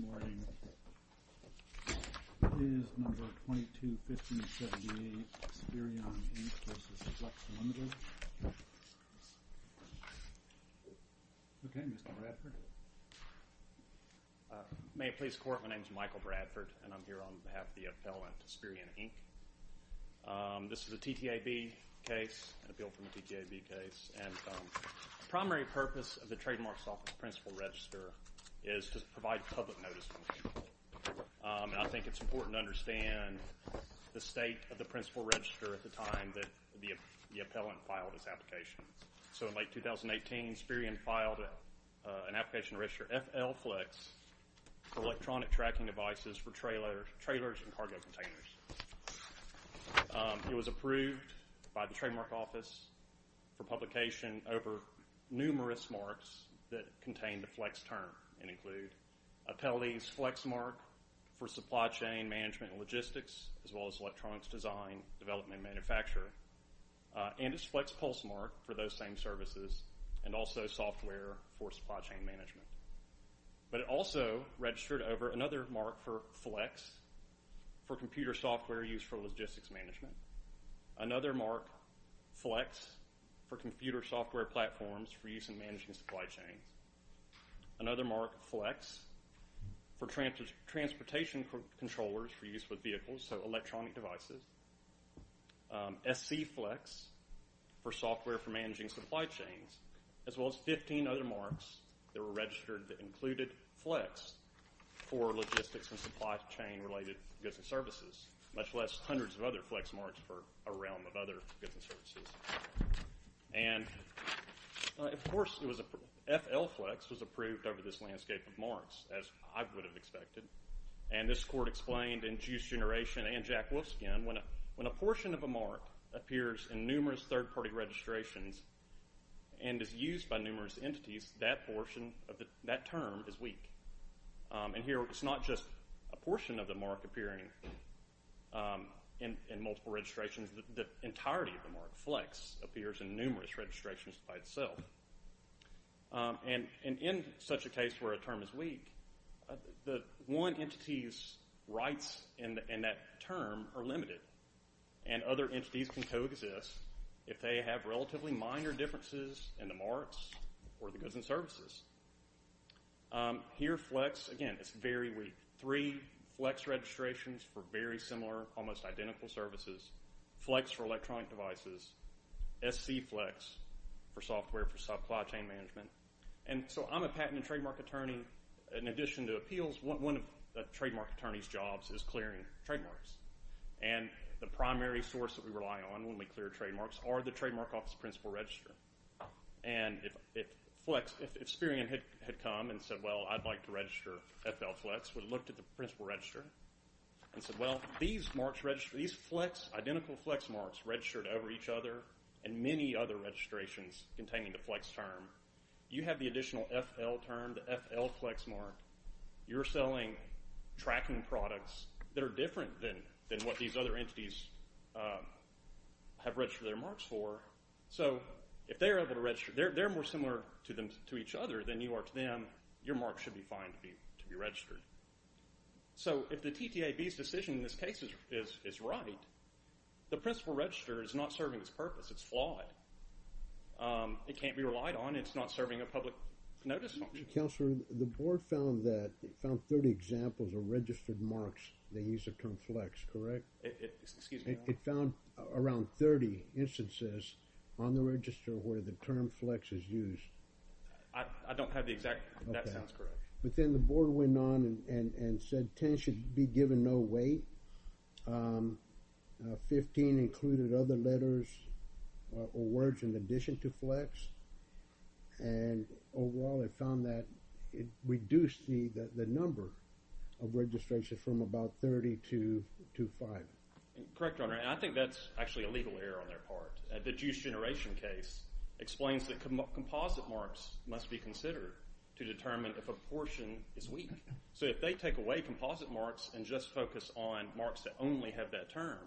May it please the court, my name is Michael Bradford and I'm here on behalf of the appellant Spireon, Inc. This is a TTAB case, an appeal from a TTAB case and the primary purpose of the Trademarks Office principal register is to provide public notice and I think it's important to understand the state of the principal register at the time that the appellant filed his application. So in late 2018, Spireon filed an application to register FL-Flex for electronic tracking devices for trailers and cargo containers. It was approved by the Trademarks Office for publication over numerous marks that contain the flex term and include appellee's flex mark for supply chain management and logistics as well as electronics design, development, and manufacture and its flex pulse mark for those same services and also software for supply chain management. But it also registered over another mark for flex for computer software used for logistics management, another mark flex for computer software platforms for use in managing supply chains, another mark flex for transportation controllers for use with vehicles, so electronic that included flex for logistics and supply chain related goods and services much less hundreds of other flex marks for a realm of other goods and services. And of course FL-Flex was approved over this landscape of marks as I would have expected and this court explained in Juice Generation and Jack Wolfskin when a portion of a mark appears in numerous third party registrations and is used by numerous entities, that portion that term is weak. And here it's not just a portion of the mark appearing in multiple registrations, the entirety of the mark flex appears in numerous registrations by itself. And in such a case where a term is weak, the one entity's rights in that term are limited and other entities can coexist if they have relatively minor differences in the marks for the goods and services. Here flex, again, it's very weak. Three flex registrations for very similar, almost identical services. Flex for electronic devices, SC-Flex for software for supply chain management. And so I'm a patent and trademark attorney. In addition to appeals, one of the trademark attorney's jobs is clearing trademarks. And the primary source that we rely on when we clear trademarks are the Trademark Office Principal Register. And if flex, if Sperian had come and said, well, I'd like to register FL-Flex, we'd looked at the Principal Register and said, well, these marks register, these flex, identical flex marks registered over each other and many other registrations containing the flex term, you have the additional FL term, the FL flex mark. You're selling tracking products that are different than what these other entities have So if they're able to register, they're more similar to each other than you are to them, your mark should be fine to be registered. So if the TTAB's decision in this case is right, the Principal Register is not serving its purpose. It's flawed. It can't be relied on. It's not serving a public notice function. Counselor, the board found that, found 30 examples of registered marks, the use of term flex, correct? Excuse me. It found around 30 instances on the register where the term flex is used. I don't have the exact, that sounds correct. But then the board went on and said 10 should be given no weight, 15 included other letters or words in addition to flex, and overall it found that it reduced the number of registrations from about 30 to 5. Correct, Your Honor. I think that's actually a legal error on their part. The juice generation case explains that composite marks must be considered to determine if a portion is weak. So if they take away composite marks and just focus on marks that only have that term,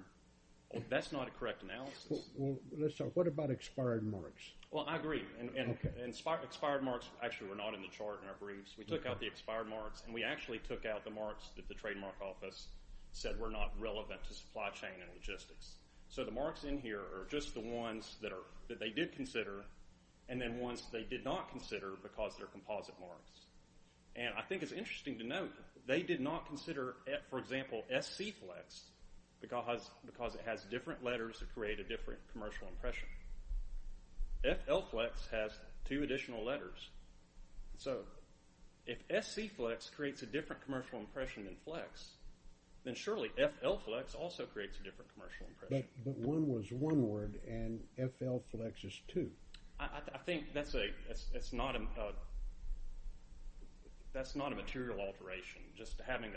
that's not a correct analysis. Well, let's talk, what about expired marks? Well, I agree. And expired marks actually were not in the chart in our briefs. We took out the expired marks and we actually took out the marks that the trademark office said were not relevant to supply chain and logistics. So the marks in here are just the ones that they did consider and then ones they did not consider because they're composite marks. And I think it's interesting to note that they did not consider, for example, SC flex because it has different letters that create a different commercial impression. FL flex has two additional letters. So if SC flex creates a different commercial impression than flex, then surely FL flex also creates a different commercial impression. But one was one word and FL flex is two. I think that's not a material alteration. Just having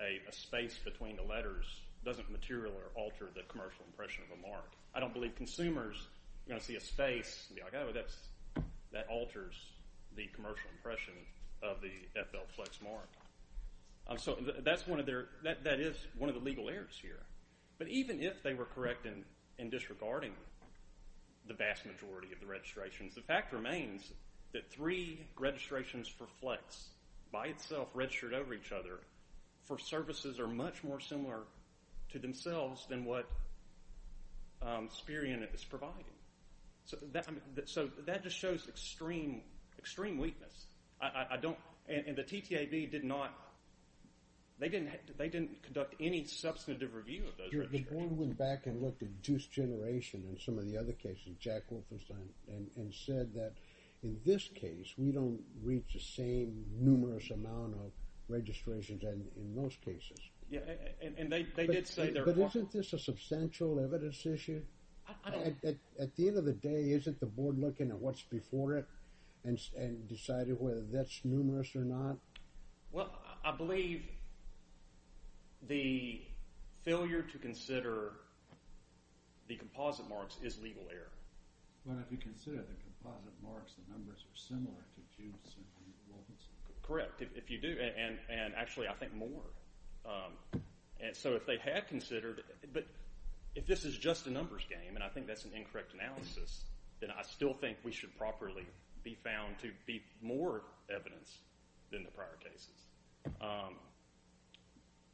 a space between the letters doesn't material or alter the commercial impression of a mark. I don't believe consumers are going to see a space and be like, oh, that alters the commercial impression of the FL flex mark. So that is one of the legal errors here. But even if they were correct in disregarding the vast majority of the registrations, the fact remains that three registrations for flex by itself registered over each other for services are much more similar to themselves than what Sperian is providing. So that just shows extreme weakness. And the TTAB did not, they didn't conduct any substantive review of those registrations. The board went back and looked at juice generation and some of the other cases, Jack Wolfenstein, and said that in this case, we don't reach the same numerous amount of registrations and in most cases. And they did say that. But isn't this a substantial evidence issue? At the end of the day, isn't the board looking at what's before it and decided whether that's numerous or not? Well, I believe the failure to consider the composite marks is legal error. But if you consider the composite marks, the numbers are similar to Juice and Wolfenstein. Correct, if you do, and actually I think more. So if they had considered, but if this is just a numbers game, and I think that's an incorrect analysis, then I still think we should properly be found to be more evidence than the prior cases.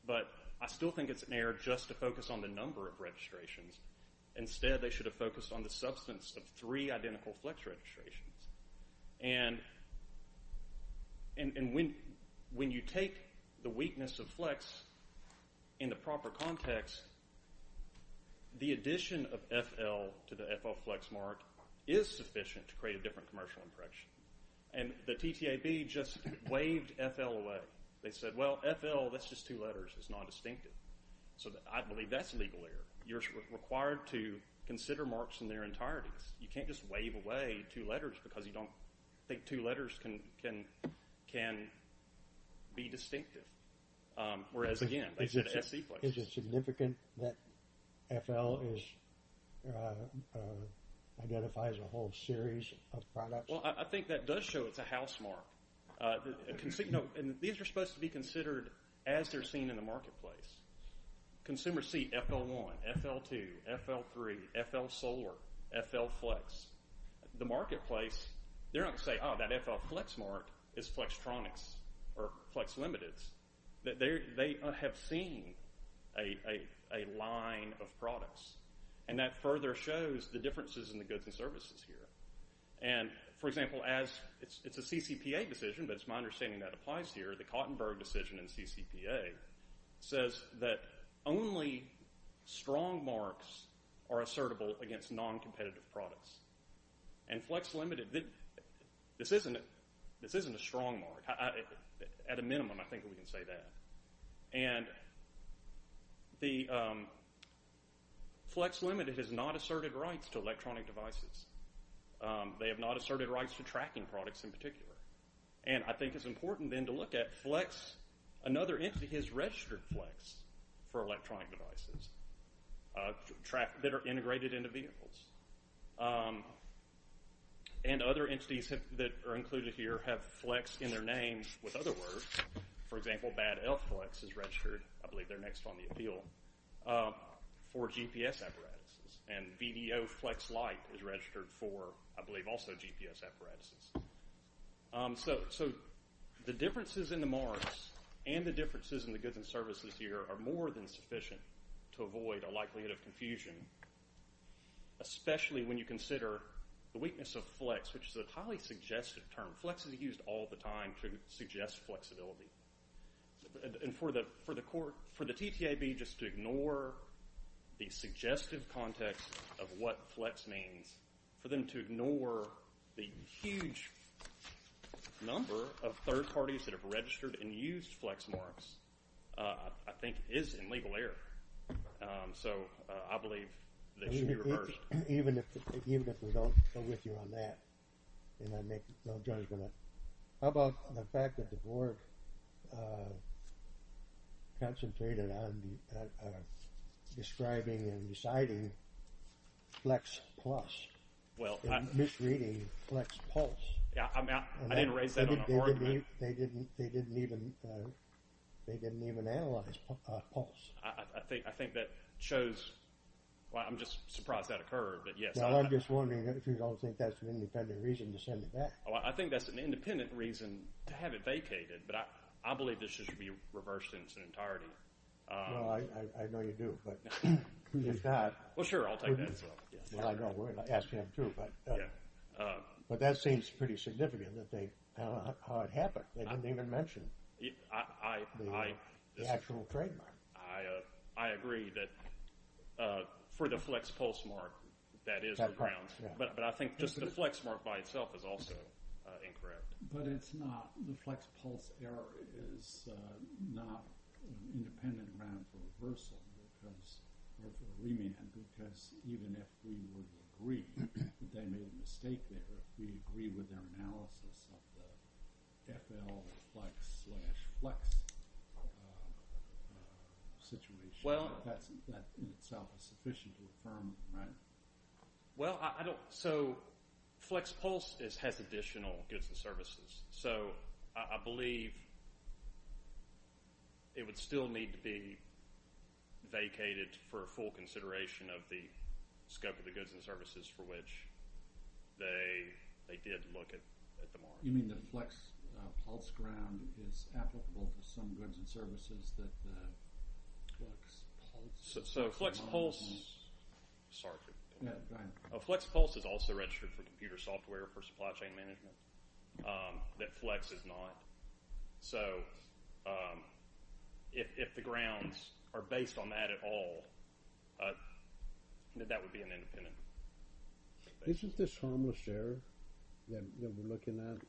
But I still think it's an error just to focus on the number of registrations. Instead, they should have focused on the substance of three identical flex registrations. And when you take the weakness of flex in the proper context, the addition of FL to the FL flex mark is sufficient to create a different commercial impression. And the TTAB just waved FL away. They said, well, FL, that's just two letters. It's nondistinctive. So I believe that's legal error. You're required to consider marks in their entirety. You can't just wave away two letters because you don't think two letters can be distinctive. Whereas, again, they said FC flex. Is it significant that FL identifies a whole series of products? Well, I think that does show it's a house mark. And these are supposed to be considered as they're seen in the marketplace. Consumers see FL1, FL2, FL3, FL solar, FL flex. The marketplace, they're not going to say, oh, that FL flex mark is Flextronics or Flex Limiteds. They have seen a line of products. And that further shows the differences in the goods and services here. And for example, it's a CCPA decision, but it's my understanding that applies here. The Kautenberg decision in CCPA says that only strong marks are assertable against non-competitive products. And Flex Limited, this isn't a strong mark. At a minimum, I think we can say that. And the Flex Limited has not asserted rights to electronic devices. And I think it's important then to look at Flex. Another entity has registered Flex for electronic devices that are integrated into vehicles. And other entities that are included here have Flex in their names with other words. For example, Bad Elf Flex is registered, I believe they're next on the appeal, for GPS apparatuses. And VDO Flex Light is registered for, I believe, also GPS apparatuses. So the differences in the marks and the differences in the goods and services here are more than sufficient to avoid a likelihood of confusion, especially when you consider the weakness of Flex, which is a highly suggestive term. Flex is used all the time to suggest flexibility. And for the TTAB, just to ignore the suggestive context of what Flex means, for them to ignore the huge number of third parties that have registered and used Flex marks, I think is in legal error. So I believe they should be reversed. Even if we don't go with you on that, and I make no judgment, how about the fact that the board concentrated on describing and deciding Flex Plus and misreading Flex Pulse? Yeah, I mean, I didn't raise that on the board. They didn't even analyze Pulse. I think that shows, well, I'm just surprised that occurred, but yes. Well, I'm just wondering if you don't think that's an independent reason to send it back. I think that's an independent reason to have it vacated, but I believe this should be reversed in its entirety. Well, I know you do, but if not... Well, sure, I'll take that as well. Well, I know. Ask him, too. But that seems pretty significant, how it happened. They didn't even mention the actual trademark. I agree that for the Flex Pulse mark, that is the grounds. But I think just the Flex mark by itself is also incorrect. But it's not. The Flex Pulse error is not an independent ground for reversal, or for remand, because even if we would agree that they made a mistake there, if we agree with their analysis of the FL Flex slash Flex situation, that in itself is sufficient to affirm the matter. Well, I don't... So Flex Pulse has additional goods and services, so I believe it would still need to be vacated for full consideration of the scope of the goods and services for which they did look at the mark. You mean the Flex Pulse ground is applicable for some goods and services that the Flex Pulse... So Flex Pulse... Sorry. Go ahead. Flex Pulse is also registered for computer software for supply chain management, that Flex is not. So if the grounds are based on that at all, that would be an independent... Isn't this harmless error that we're looking at?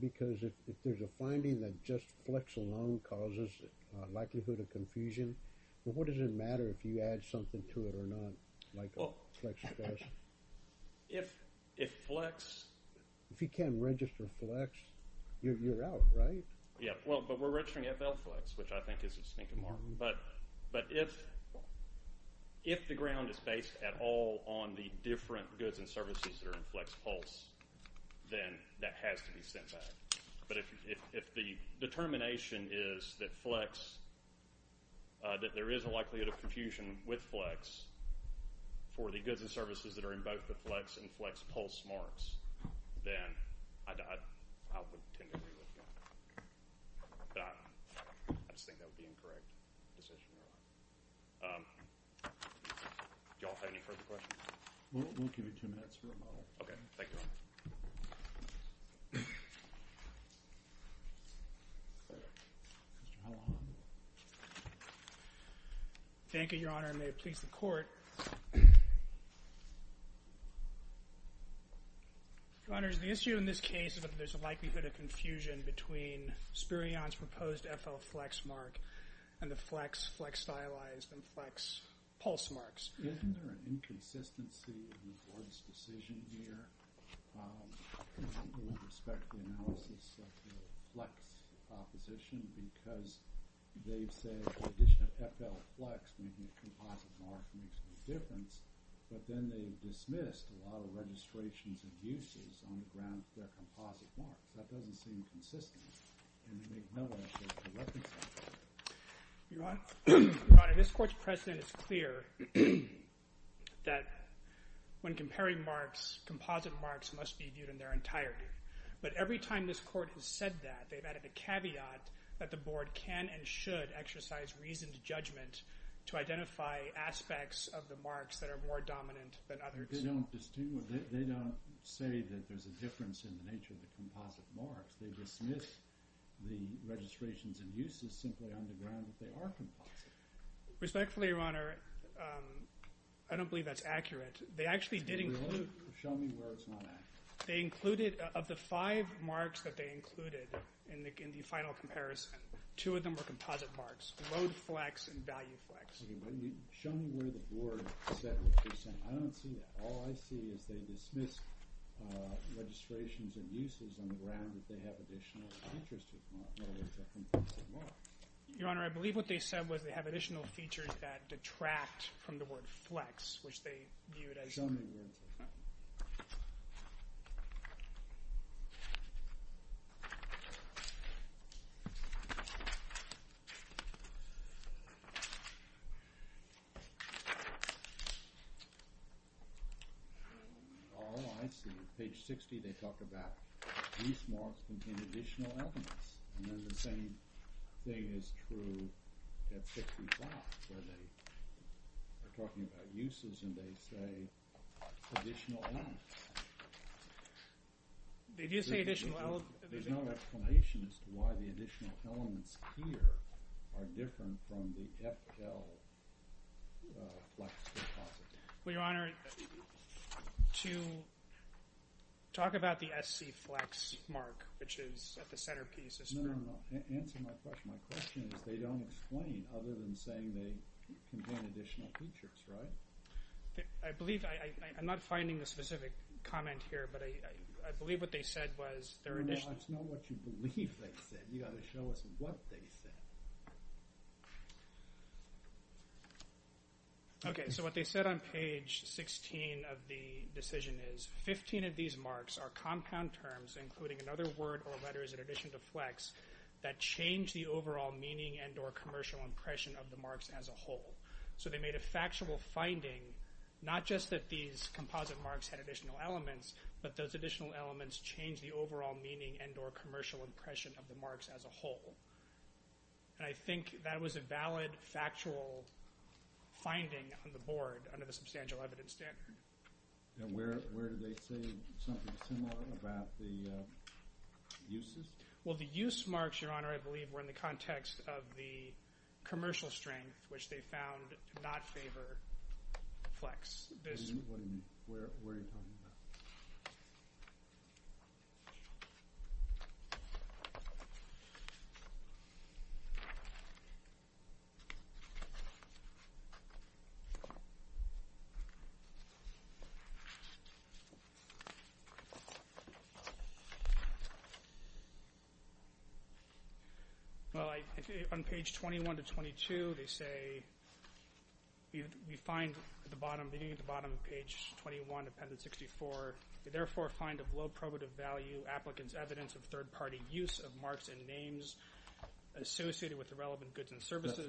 Because if there's a finding that just Flex alone causes likelihood of confusion, what does it matter if you add something to it or not, like Flex does? If Flex... If you can't register Flex, you're out, right? Yeah. Well, but we're registering FL Flex, which I think is a stinking mark. But if the ground is based at all on the different goods and services that are in Flex Pulse, then that has to be sent back. But if the determination is that Flex, that there is a likelihood of confusion with Flex for the goods and services that are in both the Flex and Flex Pulse marks, then I would tend to agree with you. But I just think that would be an incorrect decision. Do you all have any further questions? We'll give you two minutes for a model. Okay. Thank you, Your Honor. Thank you, Your Honor, and may it please the Court. Your Honors, the issue in this case is that there's a likelihood of confusion between Spirion's proposed FL Flex mark and the Flex Flex Stylized and Flex Pulse marks. Isn't there an inconsistency in the Court's decision here with respect to the analysis of the Flex proposition because they've said the addition of FL Flex making a composite mark makes no difference, but then they've dismissed a lot of registrations of uses on the ground of their composite marks. That doesn't seem consistent, and they make no effort to reconcile that. Your Honor, this Court's precedent is clear that when comparing marks, composite marks must be viewed in their entirety. But every time this Court has said that, they've added a caveat that the Board can and should exercise reasoned judgment to identify aspects of the marks that are more dominant than others. They don't say that there's a difference in the nature of the composite marks. They dismiss the registrations and uses simply on the ground that they are composite. Respectfully, Your Honor, I don't believe that's accurate. They actually did include – Show me where it's not accurate. They included – of the five marks that they included in the final comparison, two of them were composite marks, Load Flex and Value Flex. Show me where the Board said what they're saying. I don't see that. All I see is they dismiss registrations and uses on the ground that they have additional features to them, in other words, they're composite marks. Your Honor, I believe what they said was they have additional features that detract from the word flex, which they viewed as – Show me where it's not. All I see, page 60, they talk about these marks contain additional elements, and then the same thing is true at 65 where they are talking about uses and they say additional elements. Did you say additional elements? There's no explanation as to why the additional elements here are different from the FL flex composite. Well, Your Honor, to talk about the SC flex mark, which is at the centerpiece. No, no, no, answer my question. My question is they don't explain other than saying they contain additional features, right? I believe – I'm not finding the specific comment here, but I believe what they said was they're – No, no, it's not what you believe they said. You've got to show us what they said. Okay, so what they said on page 16 of the decision is 15 of these marks are compound terms, including another word or letters in addition to flex, that change the overall meaning and or commercial impression of the marks as a whole. So they made a factual finding, not just that these composite marks had additional elements, but those additional elements change the overall meaning and or commercial impression of the marks as a whole. And I think that was a valid factual finding on the board under the substantial evidence standard. And where did they say something similar about the uses? Well, the use marks, Your Honor, I believe were in the context of the commercial strength, which they found to not favor flex. Where are you talking about? Well, on page 21 to 22, they say – That's a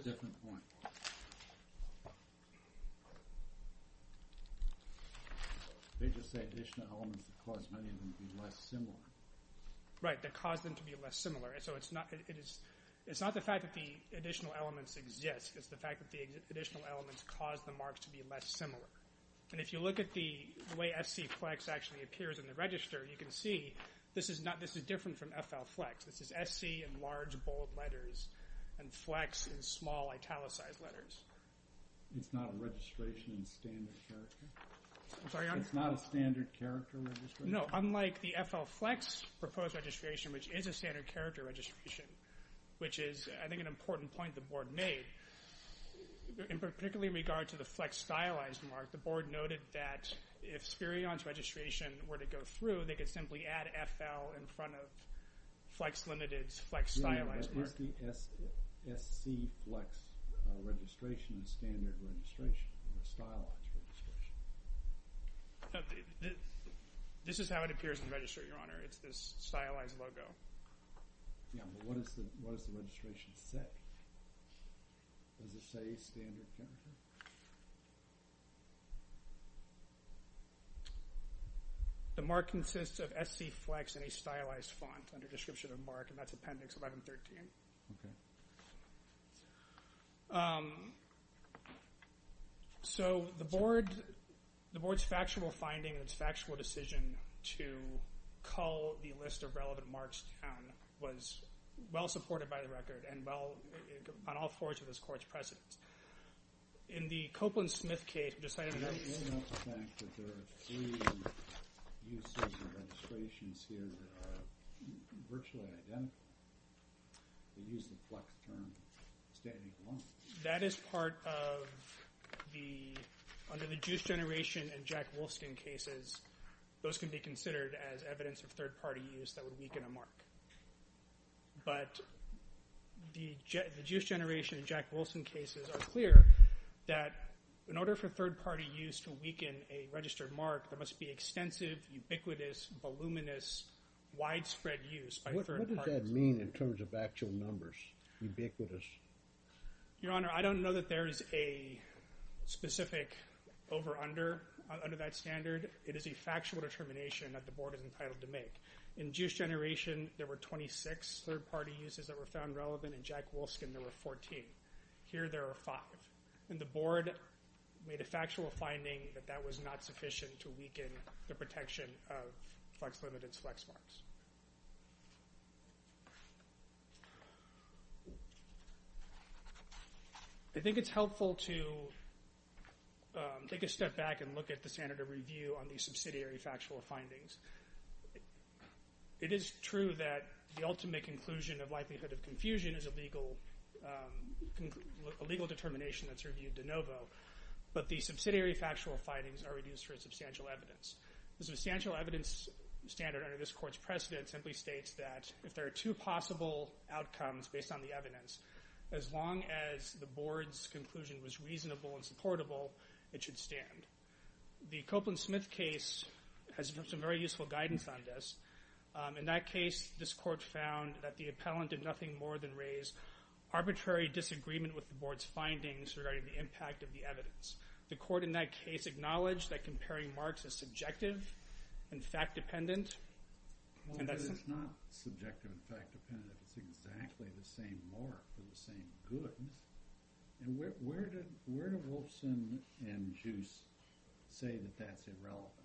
different point. They just say additional elements that cause many of them to be less similar. Right, that cause them to be less similar. So it's not the fact that the additional elements exist. It's the fact that the additional elements cause the marks to be less similar. And if you look at the way FC flex actually appears in the register, you can see this is different from FL flex. This is FC in large bold letters and flex in small italicized letters. It's not a registration in standard character? I'm sorry, Your Honor? It's not a standard character registration? No, unlike the FL flex proposed registration, which is a standard character registration, which is, I think, an important point the board made, particularly in regard to the flex stylized mark, the board noted that if Sperion's registration were to go through, they could simply add FL in front of flex limited's flex stylized mark. Is the SC flex registration a standard registration or a stylized registration? This is how it appears in the register, Your Honor. It's this stylized logo. Yeah, but what does the registration say? Does it say standard character? The mark consists of SC flex in a stylized font under description of mark, and that's Appendix 1113. So the board's factual finding and its factual decision to cull the list of relevant marks was well supported by the record and on all fours of this court's precedence. In the Copeland-Smith case, we decided that there are three uses of registrations here that are virtually identical. They use the flex term standing alone. That is part of the, under the Juice Generation and Jack Wolfskin cases, those can be considered as evidence of third-party use that would weaken a mark. But the Juice Generation and Jack Wolfskin cases are clear that in order for third-party use to weaken a registered mark, there must be extensive, ubiquitous, voluminous, widespread use by third parties. What does that mean in terms of actual numbers, ubiquitous? Your Honor, I don't know that there is a specific over under that standard. It is a factual determination that the board is entitled to make. In Juice Generation, there were 26 third-party uses that were found relevant. In Jack Wolfskin, there were 14. Here there are five. And the board made a factual finding that that was not sufficient to weaken the protection of flex-limited flex marks. I think it's helpful to take a step back and look at the standard of review on the subsidiary factual findings. It is true that the ultimate conclusion of likelihood of confusion is a legal determination that's reviewed de novo. But the subsidiary factual findings are reduced for substantial evidence. The substantial evidence standard under this court's precedent simply states that if there are two possible outcomes based on the evidence, as long as the board's conclusion was reasonable and supportable, it should stand. The Copeland-Smith case has some very useful guidance on this. In that case, this court found that the appellant did nothing more than raise arbitrary disagreement with the board's findings regarding the impact of the evidence. The court in that case acknowledged that comparing marks is subjective and fact-dependent. It's not subjective and fact-dependent. It's exactly the same mark for the same goods. Where do Wolfskin and Juice say that that's irrelevant?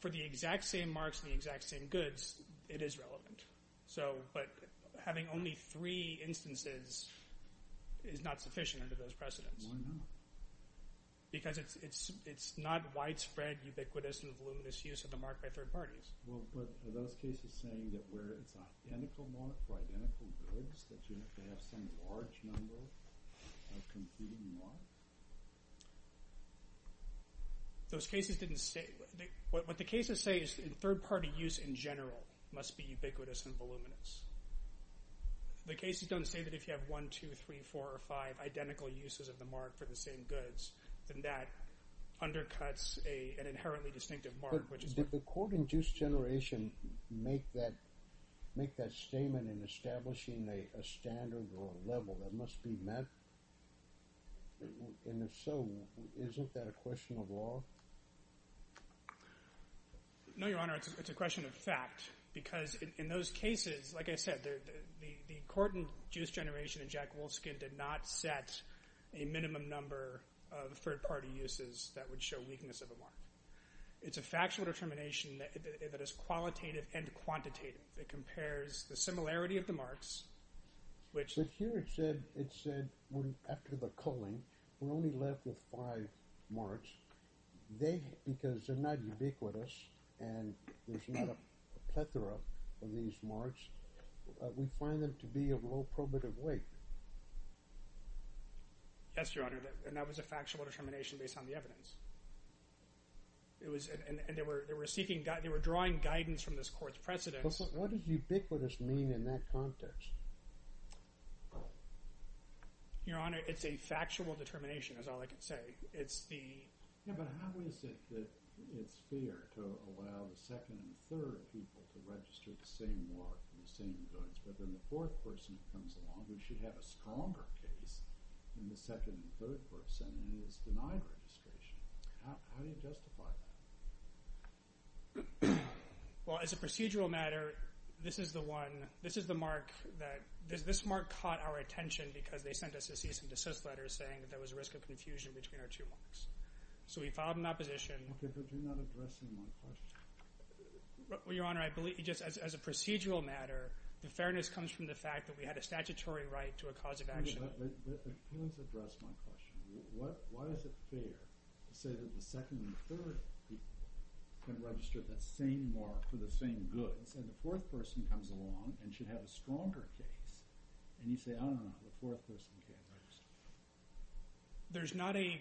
For the exact same marks and the exact same goods, it is relevant. But having only three instances is not sufficient under those precedents. Why not? Because it's not widespread, ubiquitous, and voluminous use of the mark by third parties. Are those cases saying that where it's an identical mark for identical goods, that you have to have some large number of competing marks? What the cases say is that third-party use in general must be ubiquitous and voluminous. The cases don't say that if you have one, two, three, four, or five identical uses of the mark for the same goods, then that undercuts an inherently distinctive mark. Did the court in Juice Generation make that statement in establishing a standard or a level that must be met? And if so, isn't that a question of law? No, Your Honor. It's a question of fact because in those cases, like I said, the court in Juice Generation and Jack Wolfskin did not set a minimum number of third-party uses that would show weakness of a mark. It's a factual determination that is qualitative and quantitative. It compares the similarity of the marks, which— after the culling, we're only left with five marks. They—because they're not ubiquitous and there's not a plethora of these marks, we find them to be of low probative weight. Yes, Your Honor, and that was a factual determination based on the evidence. It was—and they were seeking—they were drawing guidance from this court's precedents. But what does ubiquitous mean in that context? Your Honor, it's a factual determination is all I can say. It's the— Yeah, but how is it that it's fair to allow the second and third people to register the same mark for the same goods, but then the fourth person comes along who should have a stronger case than the second and third person and is denied registration? How do you justify that? Well, as a procedural matter, this is the one—this is the mark that— this mark caught our attention because they sent us a cease and desist letter saying there was a risk of confusion between our two marks. So we filed an opposition. Okay, but you're not addressing my question. Well, Your Honor, I believe—just as a procedural matter, the fairness comes from the fact that we had a statutory right to a cause of action. Let me address my question. Why is it fair to say that the second and third people can register that same mark for the same goods, and the fourth person comes along and should have a stronger case, and you say, oh, no, no, no, the fourth person can't register? There's not a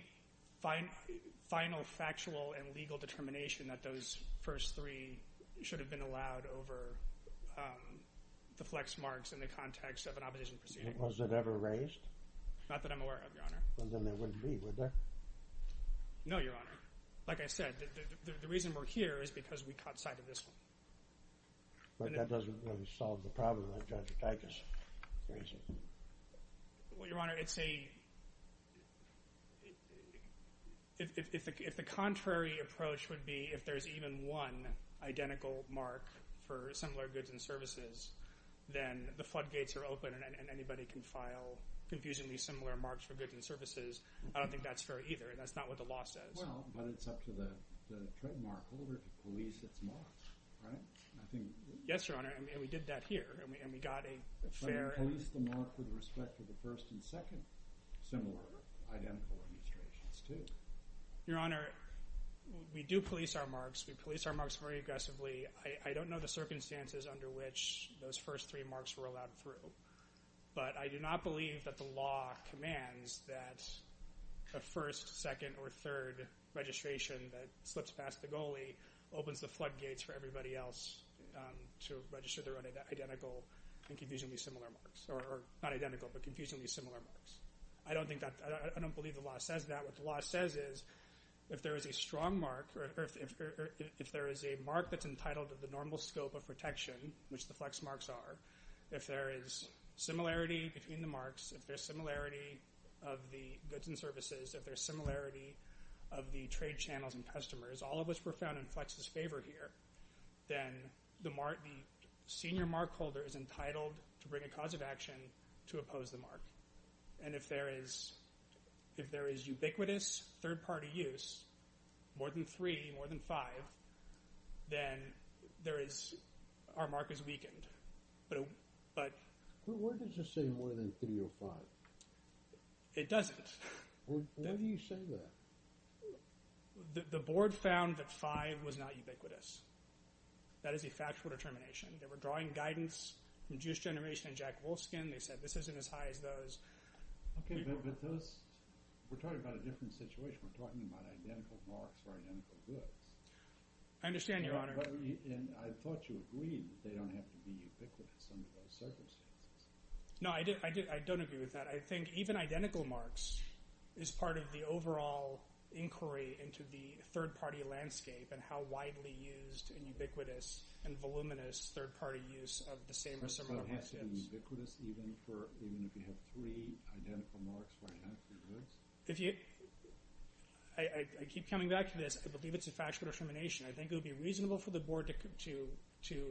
final factual and legal determination that those first three should have been allowed over the flex marks in the context of an opposition proceeding. Was it ever raised? Not that I'm aware of, Your Honor. Well, then there wouldn't be, would there? No, Your Honor. Like I said, the reason we're here is because we caught sight of this one. But that doesn't really solve the problem. I just raised it. Well, Your Honor, it's a— If the contrary approach would be if there's even one identical mark for similar goods and services, then the floodgates are open and anybody can file confusingly similar marks for goods and services. I don't think that's fair either. That's not what the law says. Well, but it's up to the trademark holder to police its marks, right? Yes, Your Honor, and we did that here, and we got a fair— with respect to the first and second similar identical registrations too. Your Honor, we do police our marks. We police our marks very aggressively. I don't know the circumstances under which those first three marks were allowed through, but I do not believe that the law commands that the first, second, or third registration that slips past the goalie opens the floodgates for everybody else to register their own identical and confusingly similar marks. Or not identical, but confusingly similar marks. I don't think that—I don't believe the law says that. What the law says is if there is a strong mark or if there is a mark that's entitled to the normal scope of protection, which the Flex marks are, if there is similarity between the marks, if there's similarity of the goods and services, if there's similarity of the trade channels and customers, all of which were found in Flex's favor here, then the senior markholder is entitled to bring a cause of action to oppose the mark. And if there is ubiquitous third-party use, more than three, more than five, then there is—our mark is weakened. But— Where does it say more than 305? It doesn't. Why do you say that? The board found that five was not ubiquitous. That is a factual determination. They were drawing guidance from Jewish Generation and Jack Wolfskin. They said this isn't as high as those. Okay, but those—we're talking about a different situation. We're talking about identical marks for identical goods. I understand, Your Honor. And I thought you agreed that they don't have to be ubiquitous under those circumstances. No, I don't agree with that. I think even identical marks is part of the overall inquiry into the third-party landscape and how widely used and ubiquitous and voluminous third-party use of the same or similar markets is. It has to be ubiquitous even if you have three identical marks for identical goods? If you—I keep coming back to this. I believe it's a factual determination. I think it would be reasonable for the board to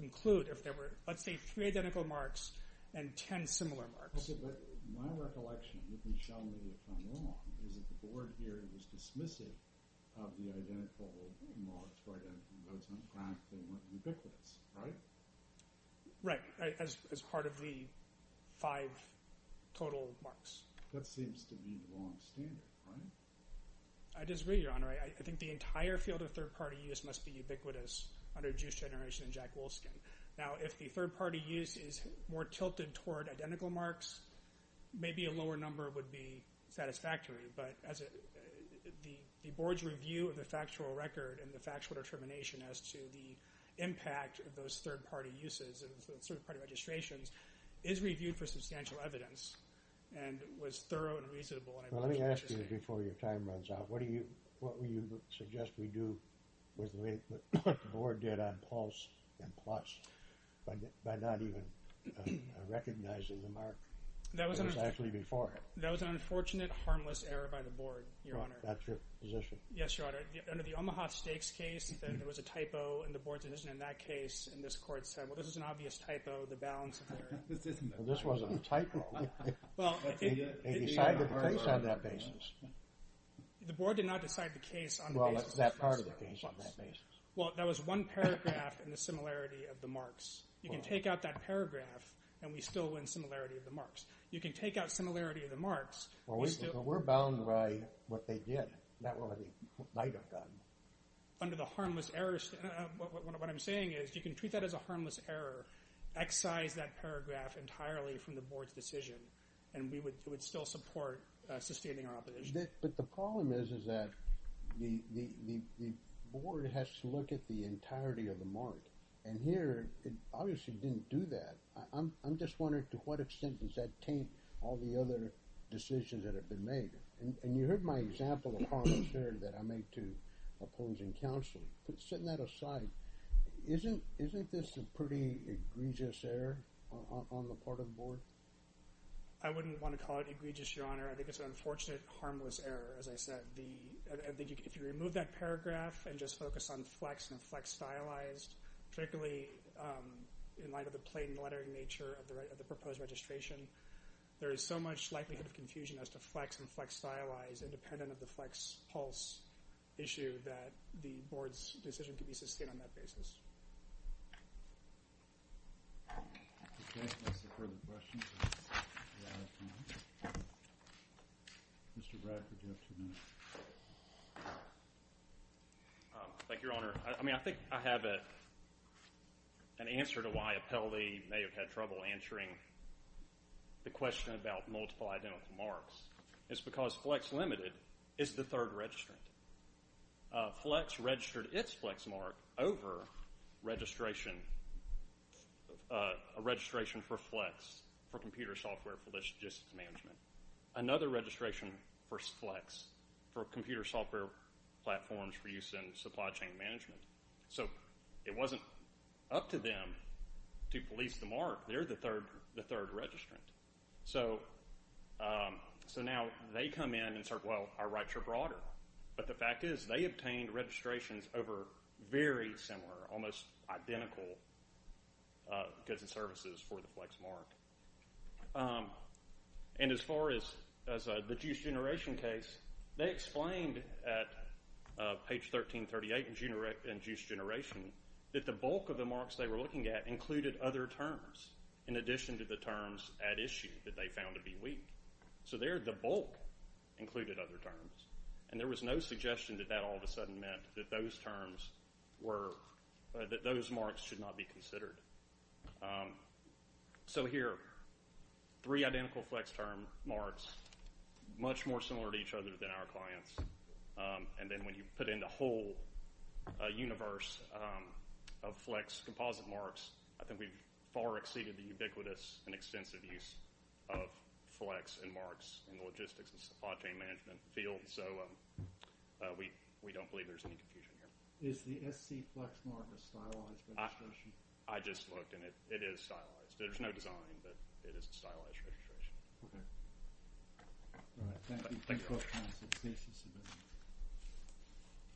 conclude if there were, let's say, three identical marks and ten similar marks. Also, my recollection, and you can show me if I'm wrong, is that the board here was dismissive of the identical marks for identical goods on the graph. They weren't ubiquitous, right? Right, as part of the five total marks. That seems to be the long standard, right? I disagree, Your Honor. I think the entire field of third-party use must be ubiquitous under Jewish Generation and Jack Wolfskin. Now, if the third-party use is more tilted toward identical marks, maybe a lower number would be satisfactory. But the board's review of the factual record and the factual determination as to the impact of those third-party uses and third-party registrations is reviewed for substantial evidence and was thorough and reasonable. Let me ask you before your time runs out. What do you suggest we do with what the board did on PULSE and PLUS by not even recognizing the mark that was actually before it? That was an unfortunate, harmless error by the board, Your Honor. That's your position? Yes, Your Honor. Under the Omaha Steaks case, there was a typo in the board's decision in that case, and this court said, well, this is an obvious typo, the balance of error. Well, this wasn't a typo. They decided the case on that basis. The board did not decide the case on that basis. Well, it's that part of the case on that basis. Well, there was one paragraph in the similarity of the marks. You can take out that paragraph, and we still win similarity of the marks. You can take out similarity of the marks. Well, we're bound by what they did, not what they might have done. Under the harmless errors, what I'm saying is you can treat that as a harmless error, excise that paragraph entirely from the board's decision, and we would still support sustaining our opposition. But the problem is that the board has to look at the entirety of the mark, and here it obviously didn't do that. I'm just wondering to what extent does that taint all the other decisions that have been made? And you heard my example of harmless error that I made to opposing counsel. Setting that aside, isn't this a pretty egregious error on the part of the board? I wouldn't want to call it egregious, Your Honor. I think it's an unfortunate harmless error, as I said. If you remove that paragraph and just focus on flex and flex stylized, particularly in light of the plain lettering nature of the proposed registration, there is so much likelihood of confusion as to flex and flex stylized independent of the flex pulse issue that the board's decision can be sustained on that basis. Thank you, Your Honor. I mean I think I have an answer to why Appellee may have had trouble answering the question about multiple identical marks. It's because flex limited is the third registrant. Flex registered its flex mark over a registration for flex for computer software for logistics management, another registration for flex for computer software platforms for use in supply chain management. So it wasn't up to them to police the mark. They're the third registrant. So now they come in and say, well, our rights are broader. But the fact is they obtained registrations over very similar, almost identical goods and services for the flex mark. And as far as the juice generation case, they explained at page 1338 in juice generation that the bulk of the marks they were looking at included other terms in addition to the terms at issue that they found to be weak. So there the bulk included other terms. And there was no suggestion that that all of a sudden meant that those terms were, that those marks should not be considered. So here, three identical flex term marks, much more similar to each other than our clients. And then when you put in the whole universe of flex composite marks, I think we've far exceeded the ubiquitous and extensive use of flex and marks in the logistics and supply chain management field. So we don't believe there's any confusion here. Is the SC flex mark a stylized registration? I just looked, and it is stylized. There's no design, but it is a stylized registration. Okay. All right. Thank you. Thank you. Thank you. Thank you. Thank you.